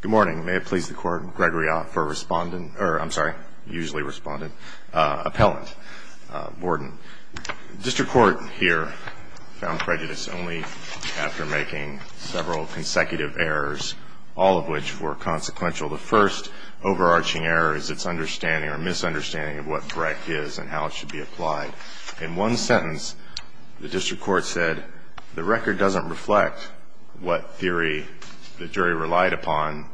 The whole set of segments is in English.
Good morning. May it please the Court, Gregory Ott for respondent, or I'm sorry, usually respondent, appellant, warden. District Court here found prejudice only after making several consecutive errors, all of which were consequential. The first overarching error is its understanding or misunderstanding of what Breck is and how it should be applied. In one sentence, the district court said the record doesn't reflect what theory the jury relied upon,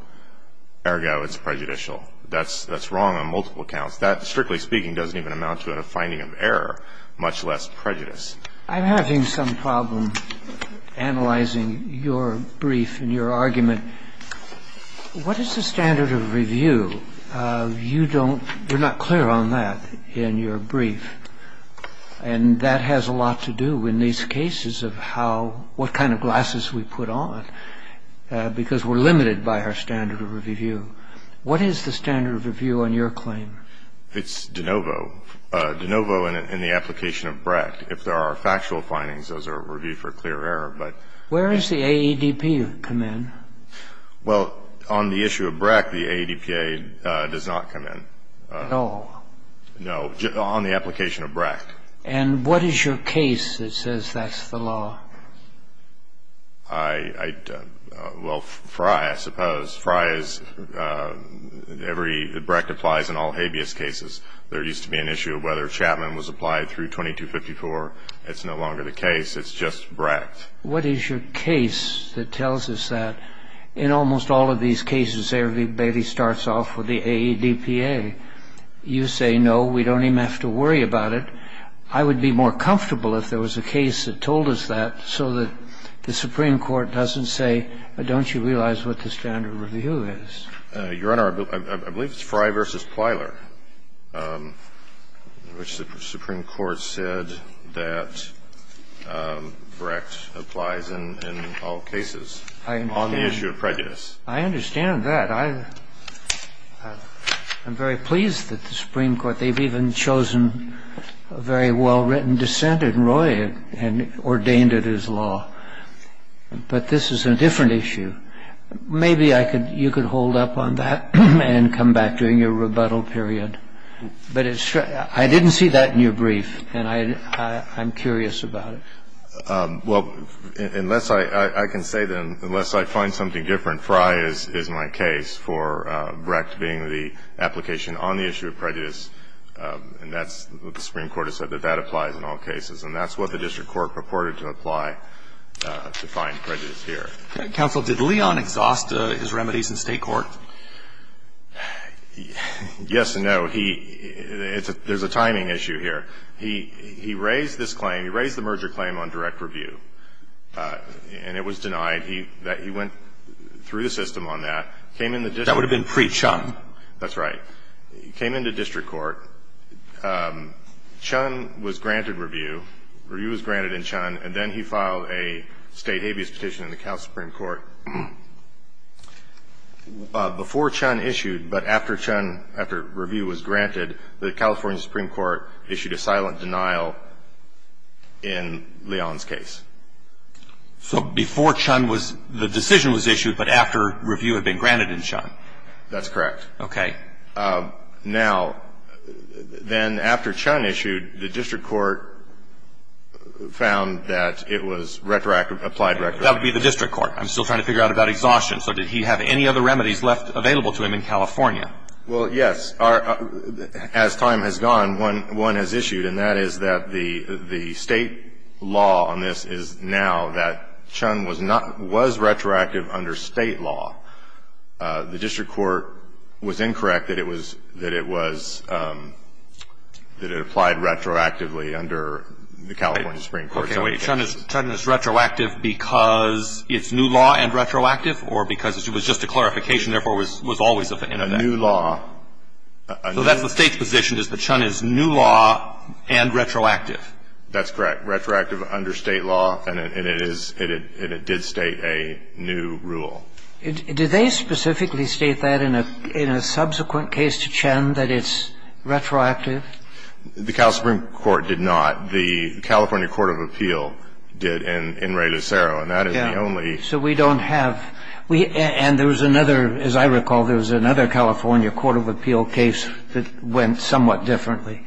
ergo it's prejudicial. That's wrong on multiple accounts. That, strictly speaking, doesn't even amount to a finding of error, much less prejudice. I'm having some problem analyzing your brief and your argument. What is the standard of review? You don't – you're not clear on that in your brief. And that has a lot to do in these cases of how – what kind of glasses we put on, because we're limited by our standard of review. What is the standard of review on your claim? It's de novo. De novo in the application of Breck. If there are factual findings, those are reviewed for clear error, but – Where does the AEDP come in? Well, on the issue of Breck, the AEDPA does not come in. At all? No. On the application of Breck. And what is your case that says that's the law? I – well, Frye, I suppose. Frye is – every – Breck applies in all habeas cases. There used to be an issue of whether Chapman was applied through 2254. It's no longer the case. It's just Breck. What is your case that tells us that in almost all of these cases everybody starts off with the AEDPA? You say, no, we don't even have to worry about it. I would be more comfortable if there was a case that told us that so that the Supreme Court doesn't say, don't you realize what the standard of review is? Your Honor, I believe it's Frye v. Plyler, which the Supreme Court said that Breck applies in all cases on the issue of prejudice. I understand that. I'm very pleased that the Supreme Court – they've even chosen a very well-written dissent in Roy and ordained it as law. But this is a different issue. Maybe I could – you could hold up on that and come back during your rebuttal period. But it's – I didn't see that in your brief, and I'm curious about it. Well, unless I – I can say that unless I find something different, Frye is my case for Breck being the application on the issue of prejudice. And that's what the Supreme Court has said, that that applies in all cases. And that's what the district court purported to apply to find prejudice here. Counsel, did Leon exhaust his remedies in State court? Yes and no. He – there's a timing issue here. He raised this claim. He raised the merger claim on direct review. And it was denied. He went through the system on that, came into district court. That would have been pre-Chun. That's right. He came into district court. Chun was granted review. Review was granted in Chun, and then he filed a State habeas petition in the California Supreme Court. Before Chun issued, but after Chun – after review was granted, the California Supreme Court issued a silent denial in Leon's case. So before Chun was – the decision was issued, but after review had been granted in Chun? That's correct. Okay. Now, then after Chun issued, the district court found that it was retroactive – applied retroactively. That would be the district court. I'm still trying to figure out about exhaustion. So did he have any other remedies left available to him in California? Well, yes. As time has gone, one has issued, and that is that the State law on this is now that Chun was not – was retroactive under State law. The district court was incorrect that it was – that it was – that it applied retroactively under the California Supreme Court. Okay. Wait. Chun is retroactive because it's new law and retroactive, or because it was just a clarification, therefore was always in effect? So that's the State's position, is that Chun is new law and retroactive? That's correct. Retroactive under State law, and it is – and it did state a new rule. Did they specifically state that in a subsequent case to Chun, that it's retroactive? The California Supreme Court did not. The California Court of Appeal did in Ray Lucero, and that is the only – So we don't have – we – and there was another – as I recall, there was another California Court of Appeal case that went somewhat differently.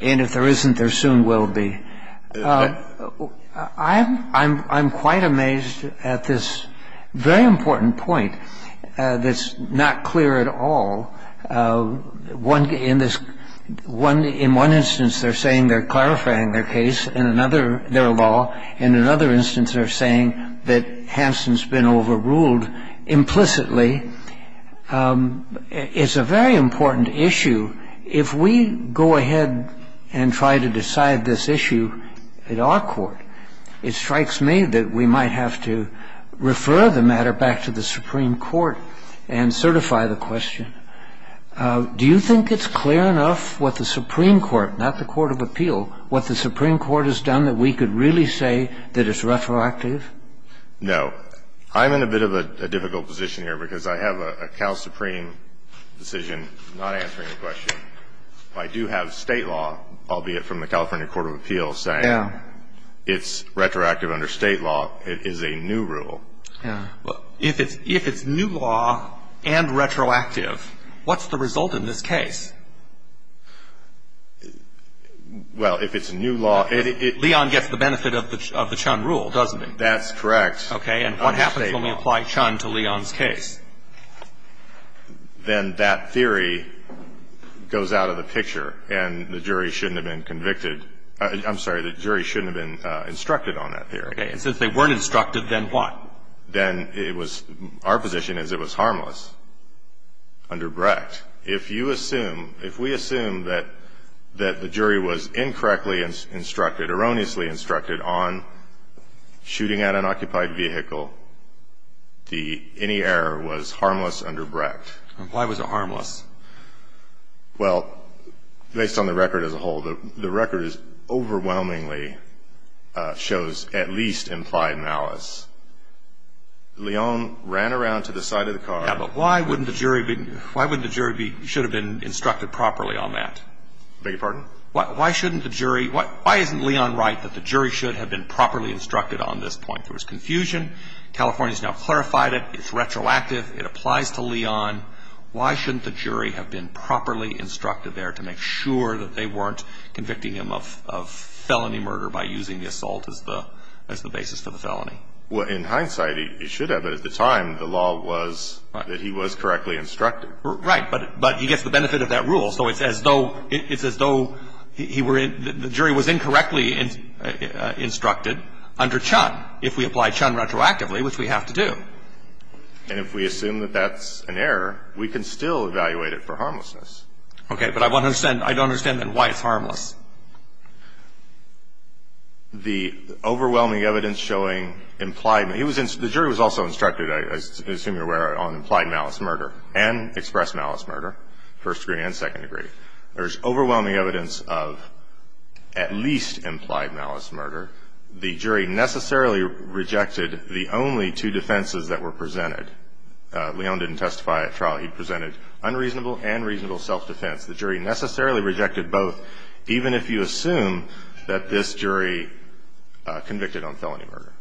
And if there isn't, there soon will be. I'm quite amazed at this very important point that's not clear at all. One – in this – one – in one instance, they're saying they're clarifying their case in another – their law. In another instance, they're saying that Hansen's been overruled implicitly. It's a very important issue. If we go ahead and try to decide this issue in our court, it strikes me that we might have to refer the matter back to the Supreme Court and certify the question. Do you think it's clear enough what the Supreme Court – not the Court of Appeal – what the Supreme Court has done that we could really say that it's retroactive? No. I'm in a bit of a difficult position here because I have a Cal Supreme decision not answering the question. I do have State law, albeit from the California Court of Appeal, saying it's retroactive under State law. It is a new rule. If it's new law and retroactive, what's the result in this case? Well, if it's new law, it – Leon gets the benefit of the Chun rule, doesn't he? That's correct. Okay. And what happens when we apply Chun to Leon's case? Then that theory goes out of the picture, and the jury shouldn't have been convicted – I'm sorry, the jury shouldn't have been instructed on that theory. Okay. And since they weren't instructed, then what? Then it was – our position is it was harmless under Brecht. If you assume – if we assume that the jury was incorrectly instructed, erroneously instructed on shooting at an occupied vehicle, the – any error was harmless under Brecht. Why was it harmless? Well, based on the record as a whole, the record overwhelmingly shows at least implied malice. Leon ran around to the side of the car – Yeah, but why wouldn't the jury be – why wouldn't the jury be – should have been instructed properly on that? Beg your pardon? Why shouldn't the jury – why isn't Leon right that the jury should have been properly instructed on this point? There was confusion. California's now clarified it. It's retroactive. It applies to Leon. Why shouldn't the jury have been properly instructed there to make sure that they weren't convicting him of felony murder by using the assault as the basis for the felony? Well, in hindsight, it should have. But at the time, the law was that he was correctly instructed. Right. But he gets the benefit of that rule. So it's as though – it's as though he were – the jury was incorrectly instructed under Chun, if we apply Chun retroactively, which we have to do. And if we assume that that's an error, we can still evaluate it for harmlessness. Okay. But I want to understand – I don't understand, then, why it's harmless. The overwhelming evidence showing implied – he was – the jury was also instructed, as I assume you're aware, on implied malice murder and expressed malice murder, first degree and second degree. There's overwhelming evidence of at least implied malice murder. The jury necessarily rejected the only two defenses that were presented. Leon didn't testify at trial. He presented unreasonable and reasonable self-defense. The jury necessarily rejected both, even if you assume that this jury convicted on felony murder.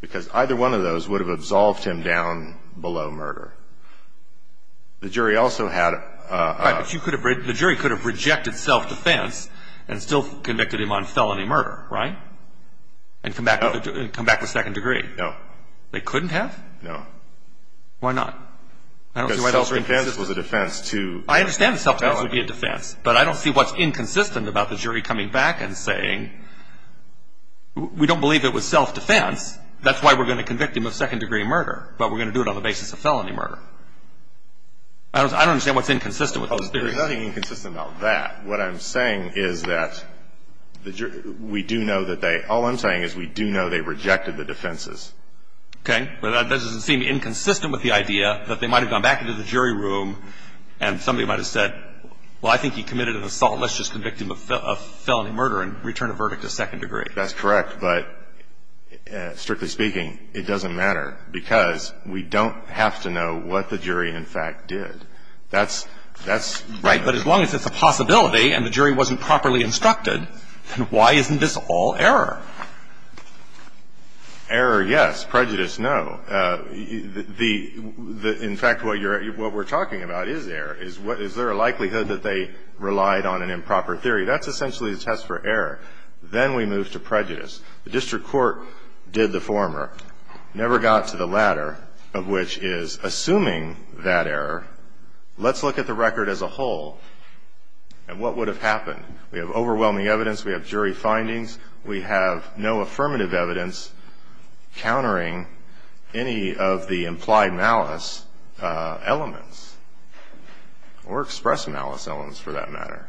Because either one of those would have absolved him down below murder. The jury also had – Right. But you could have – the jury could have rejected self-defense and still convicted him on felony murder, right, and come back with second degree. No. They couldn't have? No. Why not? Because self-defense was a defense to felony. I understand that self-defense would be a defense, but I don't see what's inconsistent about the jury coming back and saying, we don't believe it was self-defense, that's why we're going to convict him of second-degree murder, but we're going to do it on the basis of felony murder. I don't understand what's inconsistent with those theories. There's nothing inconsistent about that. What I'm saying is that the jury – we do know that they – all I'm saying is we do know they rejected the defenses. Okay. But that doesn't seem inconsistent with the idea that they might have gone back into the jury room and somebody might have said, well, I think he committed an assault, let's just convict him of felony murder and return the verdict to second degree. That's correct. But, strictly speaking, it doesn't matter because we don't have to know what the jury, in fact, did. That's – that's – If the jury didn't do it properly and the jury wasn't properly instructed, then why isn't this all error? Error, yes. Prejudice, no. The – in fact, what you're – what we're talking about is error. Is there a likelihood that they relied on an improper theory? That's essentially a test for error. Then we move to prejudice. The district court did the former, never got to the latter, of which is, assuming that error, let's look at the record as a whole and what would have happened. We have overwhelming evidence. We have jury findings. We have no affirmative evidence countering any of the implied malice elements or expressed malice elements, for that matter.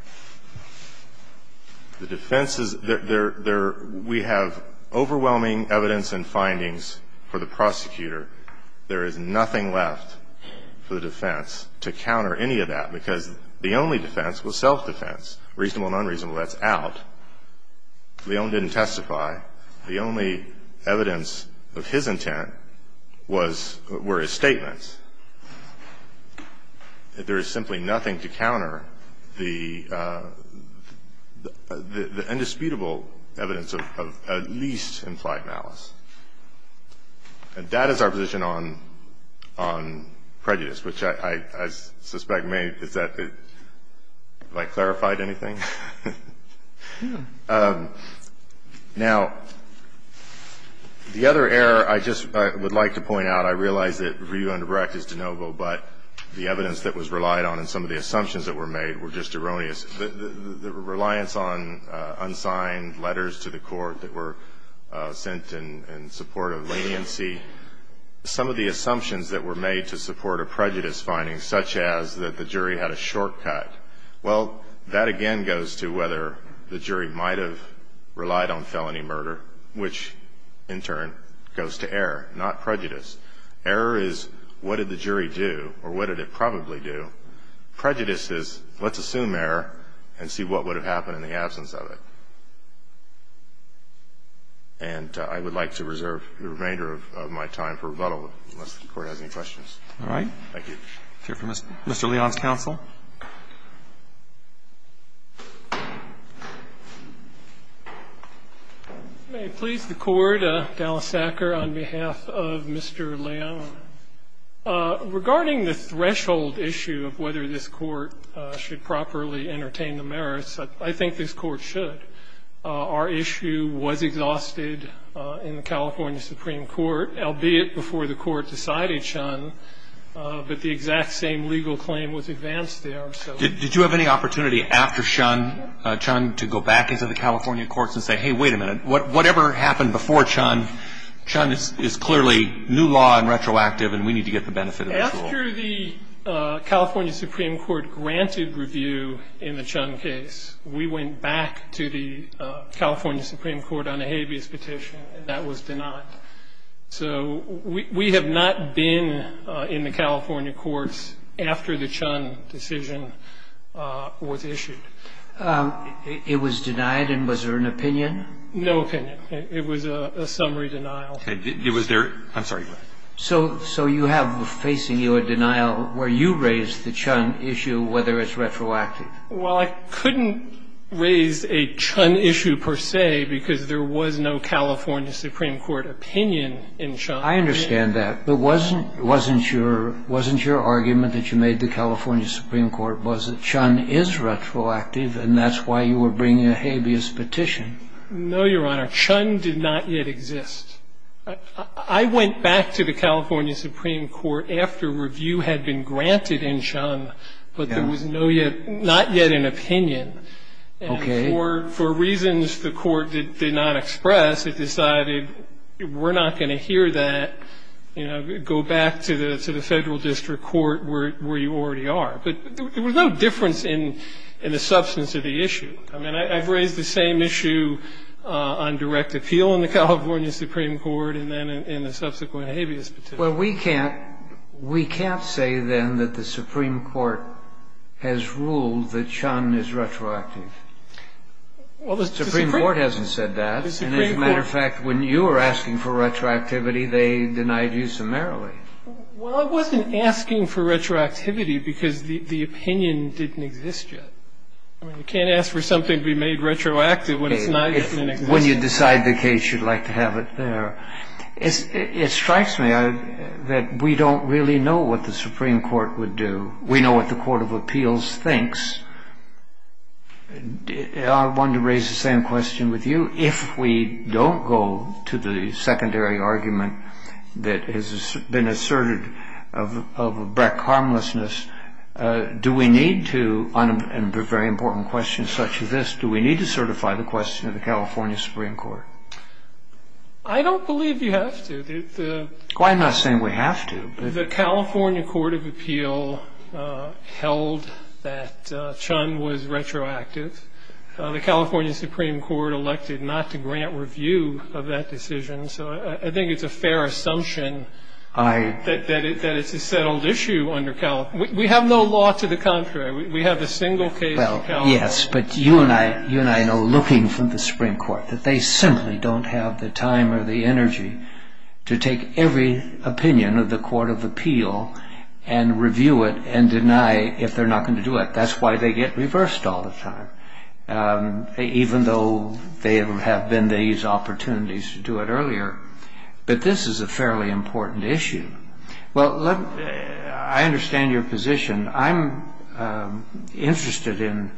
The defense is – there – we have overwhelming evidence and findings for the prosecutor. There is nothing left for the defense to counter any of that because the only defense was self-defense, reasonable and unreasonable. That's out. Leon didn't testify. The only evidence of his intent was – were his statements. There is simply nothing to counter the indisputable evidence of at least implied malice. And that is our position on prejudice, which I suspect may – is that – have I clarified anything? Now, the other error I just would like to point out, I realize that review under Brecht is de novo, but the evidence that was relied on and some of the assumptions that were made were just erroneous. The reliance on unsigned letters to the court that were sent in support of leniency, some of the assumptions that were made to support a prejudice finding, such as that the jury had a shortcut, well, that again goes to whether the jury might have relied on felony murder, which in turn goes to error, not prejudice. Error is what did the jury do or what did it probably do. Prejudice is let's assume error and see what would have happened in the absence of it. And I would like to reserve the remainder of my time for rebuttal, unless the Court has any questions. Roberts. All right. Thank you. Mr. Leon's counsel. May it please the Court, Dallas Sacker, on behalf of Mr. Leon. Regarding the threshold issue of whether this Court should properly entertain the merits, I think this Court should. Our issue was exhausted in the California Supreme Court, albeit before the Court decided Chun, but the exact same legal claim was advanced there. Did you have any opportunity after Chun to go back into the California courts and say, hey, wait a minute. Whatever happened before Chun, Chun is clearly new law and retroactive and we need to get the benefit of the rule. After the California Supreme Court granted review in the Chun case, we went back to the California Supreme Court on a habeas petition and that was denied. So we have not been in the California courts after the Chun decision was issued. It was denied and was there an opinion? No opinion. It was a summary denial. It was there. I'm sorry. So you have facing you a denial where you raised the Chun issue whether it's retroactive. Well, I couldn't raise a Chun issue per se because there was no California Supreme Court opinion in Chun. I understand that. But wasn't your argument that you made the California Supreme Court was that Chun is retroactive and that's why you were bringing a habeas petition? No, Your Honor. Chun did not yet exist. I went back to the California Supreme Court after review had been granted in Chun, but there was not yet an opinion. Okay. And for reasons the court did not express, it decided we're not going to hear that, you know, go back to the Federal District Court where you already are. But there was no difference in the substance of the issue. I mean, I've raised the same issue on direct appeal in the California Supreme Court and then in the subsequent habeas petition. Well, we can't say then that the Supreme Court has ruled that Chun is retroactive. The Supreme Court hasn't said that. And as a matter of fact, when you were asking for retroactivity, they denied you summarily. Well, I wasn't asking for retroactivity because the opinion didn't exist yet. I mean, you can't ask for something to be made retroactive when it's not even in existence. When you decide the case, you'd like to have it there. It strikes me that we don't really know what the Supreme Court would do. We know what the Court of Appeals thinks. I wanted to raise the same question with you. If we don't go to the secondary argument that has been asserted of Breck harmlessness, do we need to on a very important question such as this, do we need to certify the question of the California Supreme Court? I don't believe you have to. Why am I saying we have to? The California Court of Appeal held that Chun was retroactive. The California Supreme Court elected not to grant review of that decision. So I think it's a fair assumption that it's a settled issue under California. We have no law to the contrary. We have a single case of California. Well, yes, but you and I know, looking from the Supreme Court, that they simply don't have the time or the energy to take every opinion of the Court of Appeal and review it and deny if they're not going to do it. That's why they get reversed all the time, even though there have been these opportunities to do it earlier. But this is a fairly important issue. Well, I understand your position. I'm interested in,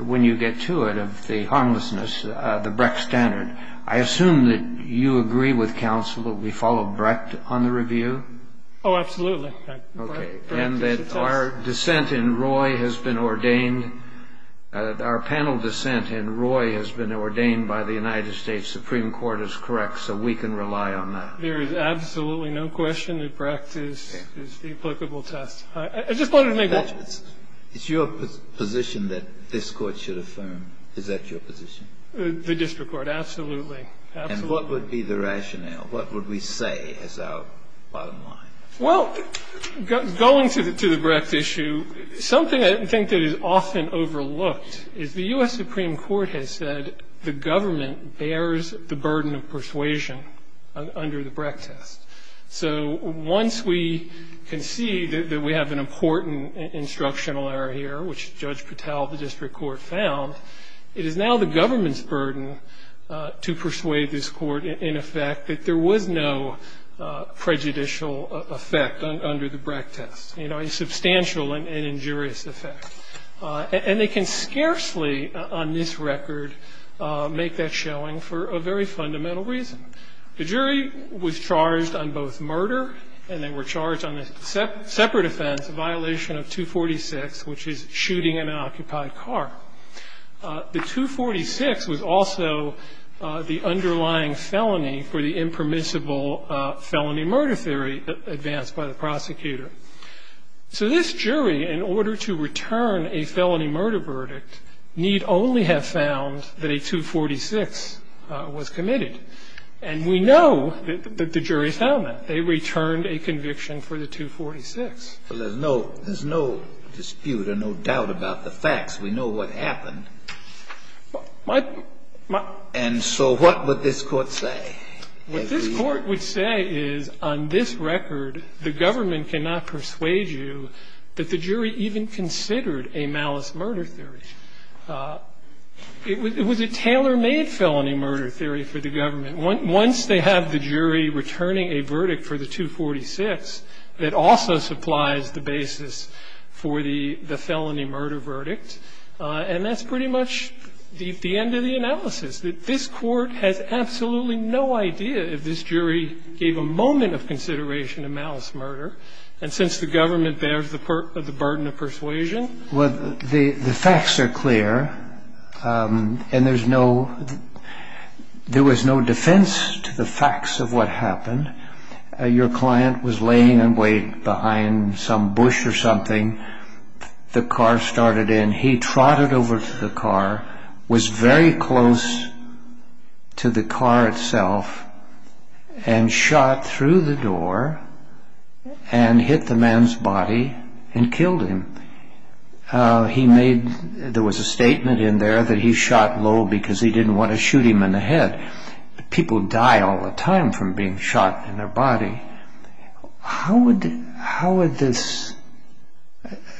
when you get to it, of the harmlessness, the Breck standard. I assume that you agree with counsel that we follow Breck on the review? Oh, absolutely. Okay. And that our dissent in Roy has been ordained. Our panel dissent in Roy has been ordained by the United States Supreme Court is correct, so we can rely on that. There is absolutely no question that Breck is the applicable test. I just wanted to make one point. It's your position that this Court should affirm. Is that your position? The district court, absolutely. And what would be the rationale? What would we say is our bottom line? Well, going to the Breck issue, something I think that is often overlooked is the U.S. Supreme Court has said the government bears the burden of persuasion under the Breck test. So once we can see that we have an important instructional error here, which Judge Patel of the district court found, it is now the government's burden to persuade this Court, in effect, that there was no prejudicial effect under the Breck test, a substantial and injurious effect. And they can scarcely, on this record, make that showing for a very fundamental reason. The jury was charged on both murder and they were charged on a separate offense, a violation of 246, which is shooting an occupied car. The 246 was also the underlying felony for the impermissible felony murder theory advanced by the prosecutor. So this jury, in order to return a felony murder verdict, need only have found that a 246 was committed. And we know that the jury found that. They returned a conviction for the 246. Well, there's no dispute or no doubt about the facts. We know what happened. And so what would this Court say? What this Court would say is, on this record, the government cannot persuade you that the jury even considered a malice murder theory. It was a tailor-made felony murder theory for the government. Once they have the jury returning a verdict for the 246, that also supplies the basis for the felony murder verdict. And that's pretty much the end of the analysis. This Court has absolutely no idea if this jury gave a moment of consideration to malice murder. And since the government bears the burden of persuasion. The facts are clear. And there was no defense to the facts of what happened. Your client was laying in wait behind some bush or something. The car started in. He trotted over to the car, was very close to the car itself, and shot through the door and hit the man's body and killed him. There was a statement in there that he shot low because he didn't want to shoot him in the head. People die all the time from being shot in their body.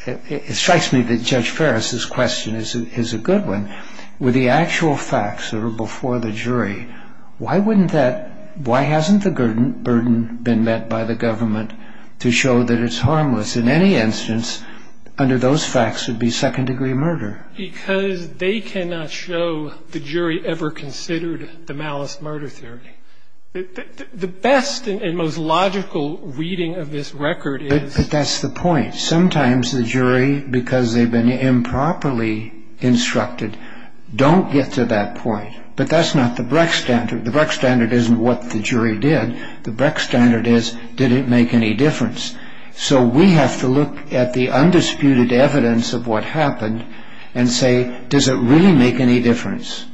It strikes me that Judge Ferris' question is a good one. With the actual facts that are before the jury, why hasn't the burden been met by the government to show that it's harmless? In any instance, under those facts, it would be second-degree murder. Because they cannot show the jury ever considered the malice murder theory. The best and most logical reading of this record is... But that's the point. Sometimes the jury, because they've been improperly instructed, don't get to that point. But that's not the Brecht standard. The Brecht standard isn't what the jury did. The Brecht standard is, did it make any difference? So we have to look at the undisputed evidence of what happened and say, does it really make any difference?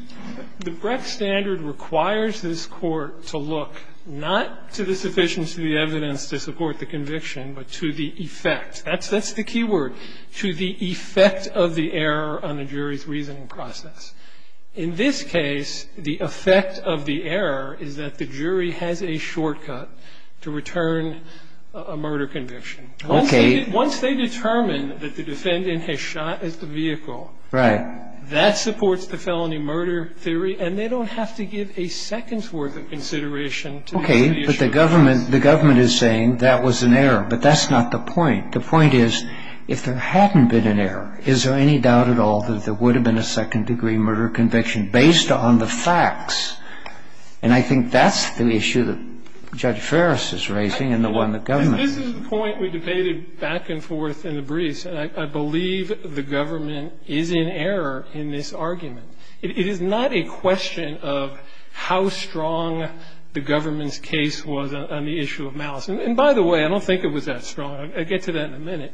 The Brecht standard requires this Court to look not to the sufficiency of the evidence to support the conviction, but to the effect. That's the key word. To the effect of the error on the jury's reasoning process. In this case, the effect of the error is that the jury has a shortcut to return a murder conviction. Once they determine that the defendant has shot at the vehicle... Right. ...that supports the felony murder theory, and they don't have to give a second's worth of consideration to the issue. Okay, but the government is saying that was an error. But that's not the point. The point is, if there hadn't been an error, is there any doubt at all that there would have been a second-degree murder conviction based on the facts? And I think that's the issue that Judge Ferris is raising and the one that government is. This is the point we debated back and forth in the briefs, and I believe the government is in error in this argument. It is not a question of how strong the government's case was on the issue of malice. And by the way, I don't think it was that strong. I'll get to that in a minute.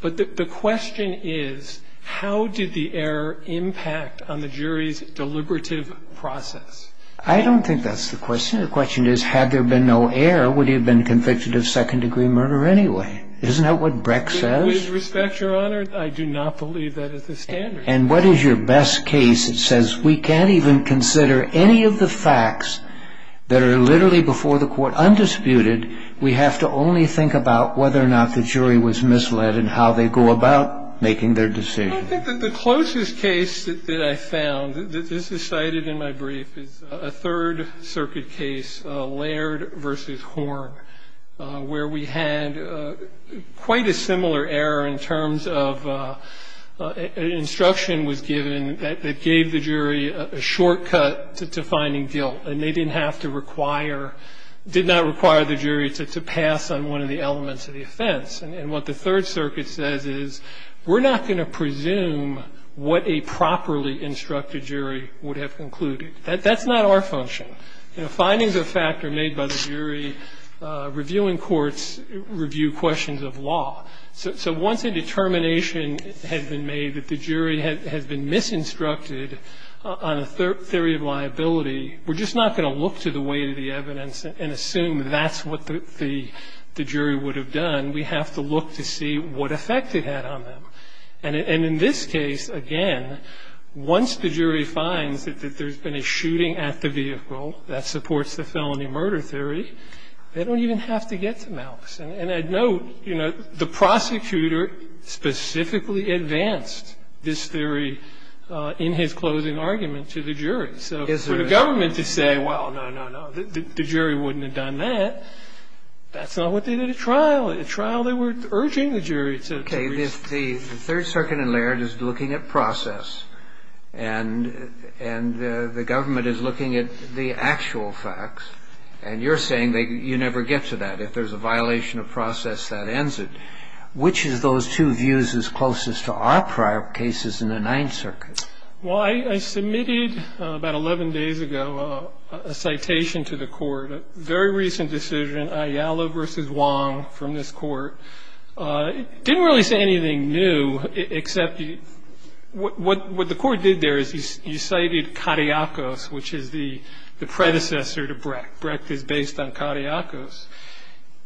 But the question is, how did the error impact on the jury's deliberative process? I don't think that's the question. The question is, had there been no error, would he have been convicted of second-degree murder anyway? Isn't that what Brecht says? With respect, Your Honor, I do not believe that is the standard. And what is your best case that says we can't even consider any of the facts that are misled in how they go about making their decision? Well, I think that the closest case that I found, this is cited in my brief, is a Third Circuit case, Laird v. Horn, where we had quite a similar error in terms of instruction was given that gave the jury a shortcut to finding guilt, and they didn't have to require the jury to pass on one of the elements of the offense. And what the Third Circuit says is we're not going to presume what a properly instructed jury would have concluded. That's not our function. Findings of fact are made by the jury. Reviewing courts review questions of law. So once a determination has been made that the jury has been misinstructed on a theory of liability, we're just not going to look to the weight of the evidence and assume that's what the jury would have done. We have to look to see what effect it had on them. And in this case, again, once the jury finds that there's been a shooting at the vehicle, that supports the felony murder theory, they don't even have to get to Malkes. And I'd note, you know, the prosecutor specifically advanced this theory in his closing argument to the jury. So for the government to say, well, no, no, no, the jury wouldn't have done that, that's not what they did at trial. At trial, they were urging the jury to review. Kennedy. The Third Circuit in Laird is looking at process, and the government is looking at the actual facts, and you're saying that you never get to that. If there's a violation of process, that ends it. Which of those two views is closest to our prior cases in the Ninth Circuit? Well, I submitted about 11 days ago a citation to the court, a very recent decision, Ayala v. Wong, from this court. It didn't really say anything new, except what the court did there is you cited Cariacos, which is the predecessor to Brecht. Brecht is based on Cariacos.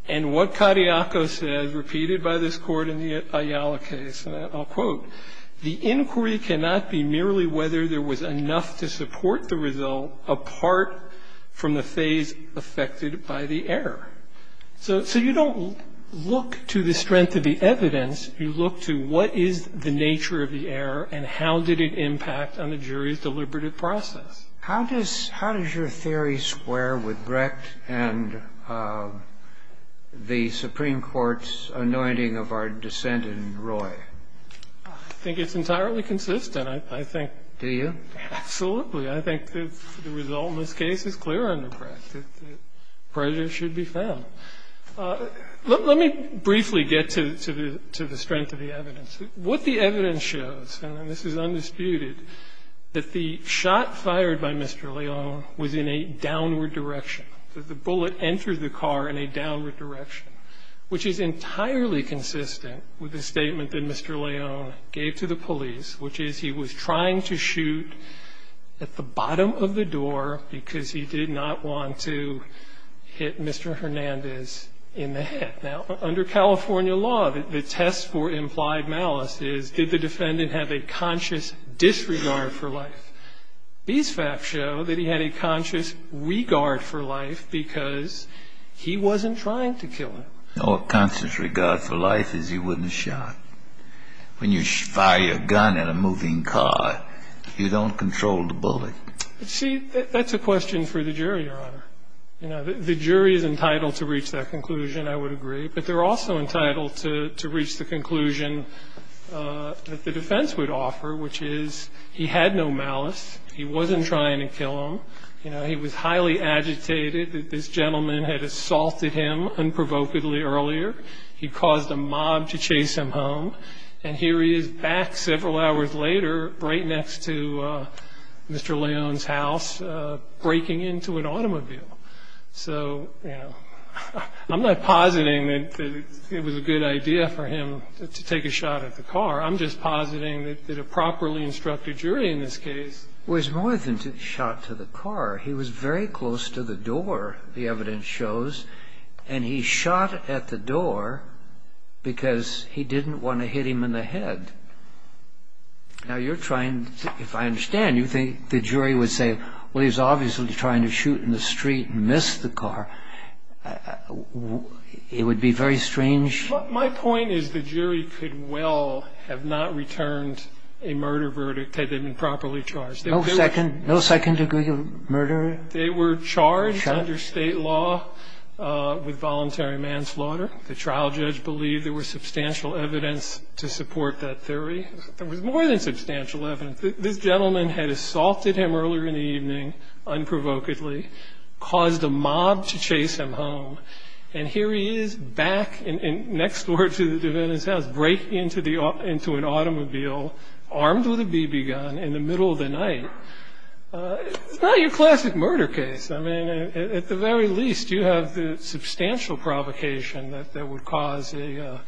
And what Cariacos says, repeated by this court in the Ayala case, and I'll quote, the inquiry cannot be merely whether there was enough to support the result apart from the phase affected by the error. So you don't look to the strength of the evidence. You look to what is the nature of the error and how did it impact on the jury's deliberative process. How does your theory square with Brecht and the Supreme Court's anointing of our dissent in Roy? I think it's entirely consistent. I think. Do you? Absolutely. I think the result in this case is clear under Brecht, that the prejudice should be found. Let me briefly get to the strength of the evidence. What the evidence shows, and this is undisputed, that the shot fired by Mr. Leone was in a downward direction. The bullet entered the car in a downward direction, which is entirely consistent with the statement that Mr. Leone gave to the police, which is he was trying to shoot at the bottom of the door because he did not want to hit Mr. Hernandez in the head. Now, under California law, the test for implied malice is did the defendant have a conscious disregard for life? These facts show that he had a conscious regard for life because he wasn't trying to kill him. A conscious regard for life is he wouldn't have shot. When you fire your gun in a moving car, you don't control the bullet. See, that's a question for the jury, Your Honor. The jury is entitled to reach that conclusion, I would agree, but they're also entitled to reach the conclusion that the defense would offer, which is he had no malice, he wasn't trying to kill him. He was highly agitated that this gentleman had assaulted him unprovokedly earlier. He caused a mob to chase him home, and here he is back several hours later right next to Mr. Leone's house breaking into an automobile. So I'm not positing that it was a good idea for him to take a shot at the car. I'm just positing that a properly instructed jury in this case was more than to shot to the car. He was very close to the door, the evidence shows, and he shot at the door because he didn't want to hit him in the head. Now, you're trying to, if I understand, you think the jury would say, well, he's obviously trying to shoot in the street and miss the car. It would be very strange. My point is the jury could well have not returned a murder verdict had they been properly charged. No second degree murder? They were charged under State law with voluntary manslaughter. The trial judge believed there was substantial evidence to support that theory. There was more than substantial evidence. This gentleman had assaulted him earlier in the evening unprovokedly, caused a mob to chase him home, and here he is back next door to the defendant's house breaking into an automobile armed with a BB gun in the middle of the night. It's not your classic murder case. I mean, at the very least, you have the substantial provocation that would cause a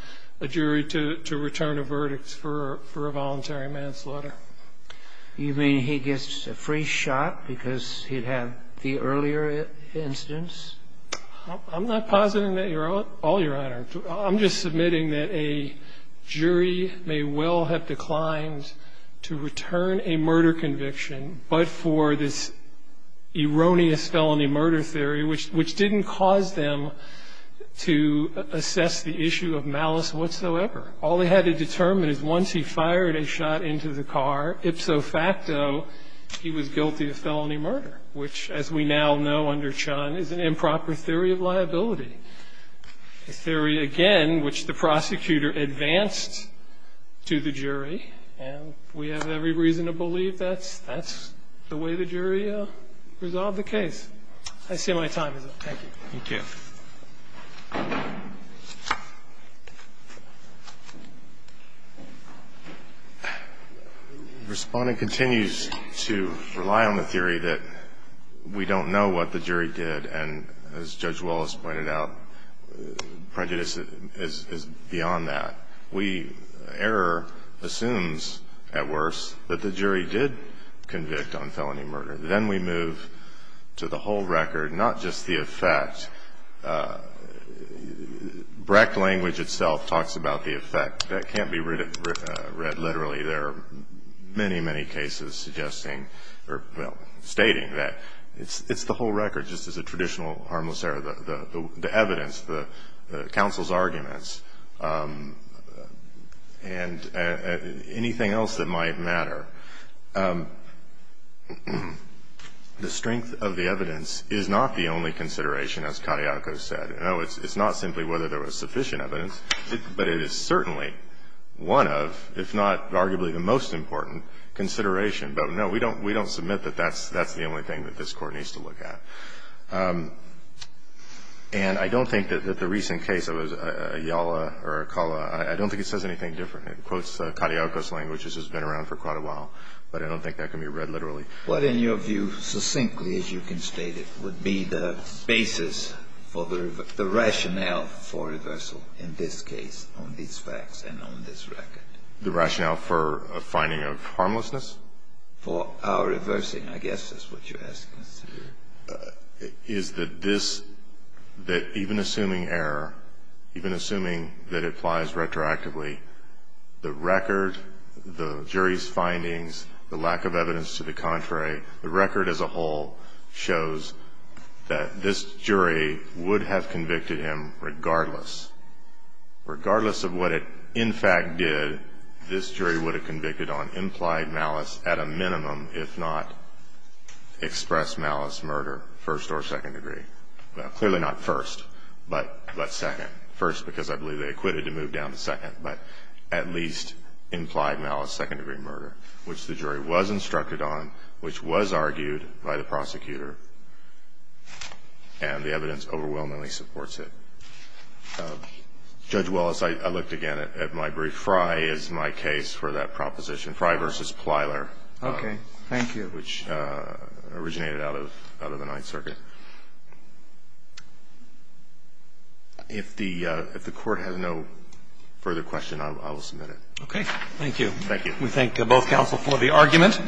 jury to return a verdict for a voluntary manslaughter. You mean he gets a free shot because he'd had the earlier instance? I'm not positing that at all, Your Honor. I'm just submitting that a jury may well have declined to return a murder conviction, but for this erroneous felony murder theory, which didn't cause them to assess the issue of malice whatsoever. All they had to determine is once he fired a shot into the car, ipso facto, he was guilty of felony murder, which, as we now know under Chun, is an improper theory of liability, a theory, again, which the prosecutor advanced to the jury. And we have every reason to believe that's the way the jury resolved the case. I see my time is up. Thank you. Thank you. Respondent continues to rely on the theory that we don't know what the jury did, and as Judge Wallace pointed out, prejudice is beyond that. We error assumes, at worst, that the jury did convict on felony murder. Then we move to the whole record, not just the effect. Brecht language itself talks about the effect. That can't be read literally. There are many, many cases suggesting or, well, stating that it's the whole record, just as a traditional harmless error, the evidence, the counsel's arguments, and anything else that might matter. The strength of the evidence is not the only consideration, as Katyako said. No, it's not simply whether there was sufficient evidence, but it is certainly one of, if not arguably the most important, consideration. But, no, we don't submit that that's the only thing that this Court needs to look at. And I don't think that the recent case of Ayala or Acala, I don't think it says anything different. It quotes Katyako's language, which has been around for quite a while, but I don't think that can be read literally. What, in your view, succinctly, as you can state it, would be the basis for the rationale for reversal in this case on these facts and on this record? The rationale for a finding of harmlessness? For our reversing, I guess, is what you're asking. Is that this, that even assuming error, even assuming that it applies retroactively, the record, the jury's findings, the lack of evidence to the contrary, the record as a whole shows that this jury would have convicted him regardless. Regardless of what it, in fact, did, this jury would have convicted on implied malice at a minimum, if not expressed malice, murder, first or second degree. Clearly not first, but second. First because I believe they acquitted to move down to second, but at least implied malice, second degree murder, which the jury was instructed on, which was argued by the prosecutor, and the evidence overwhelmingly supports it. Judge Wallace, I looked again at my brief. Fry is my case for that proposition. Fry v. Plyler. Okay. Thank you. Which originated out of the Ninth Circuit. If the Court has no further question, I will submit it. Okay. Thank you. Thank you. We thank both counsel for the argument.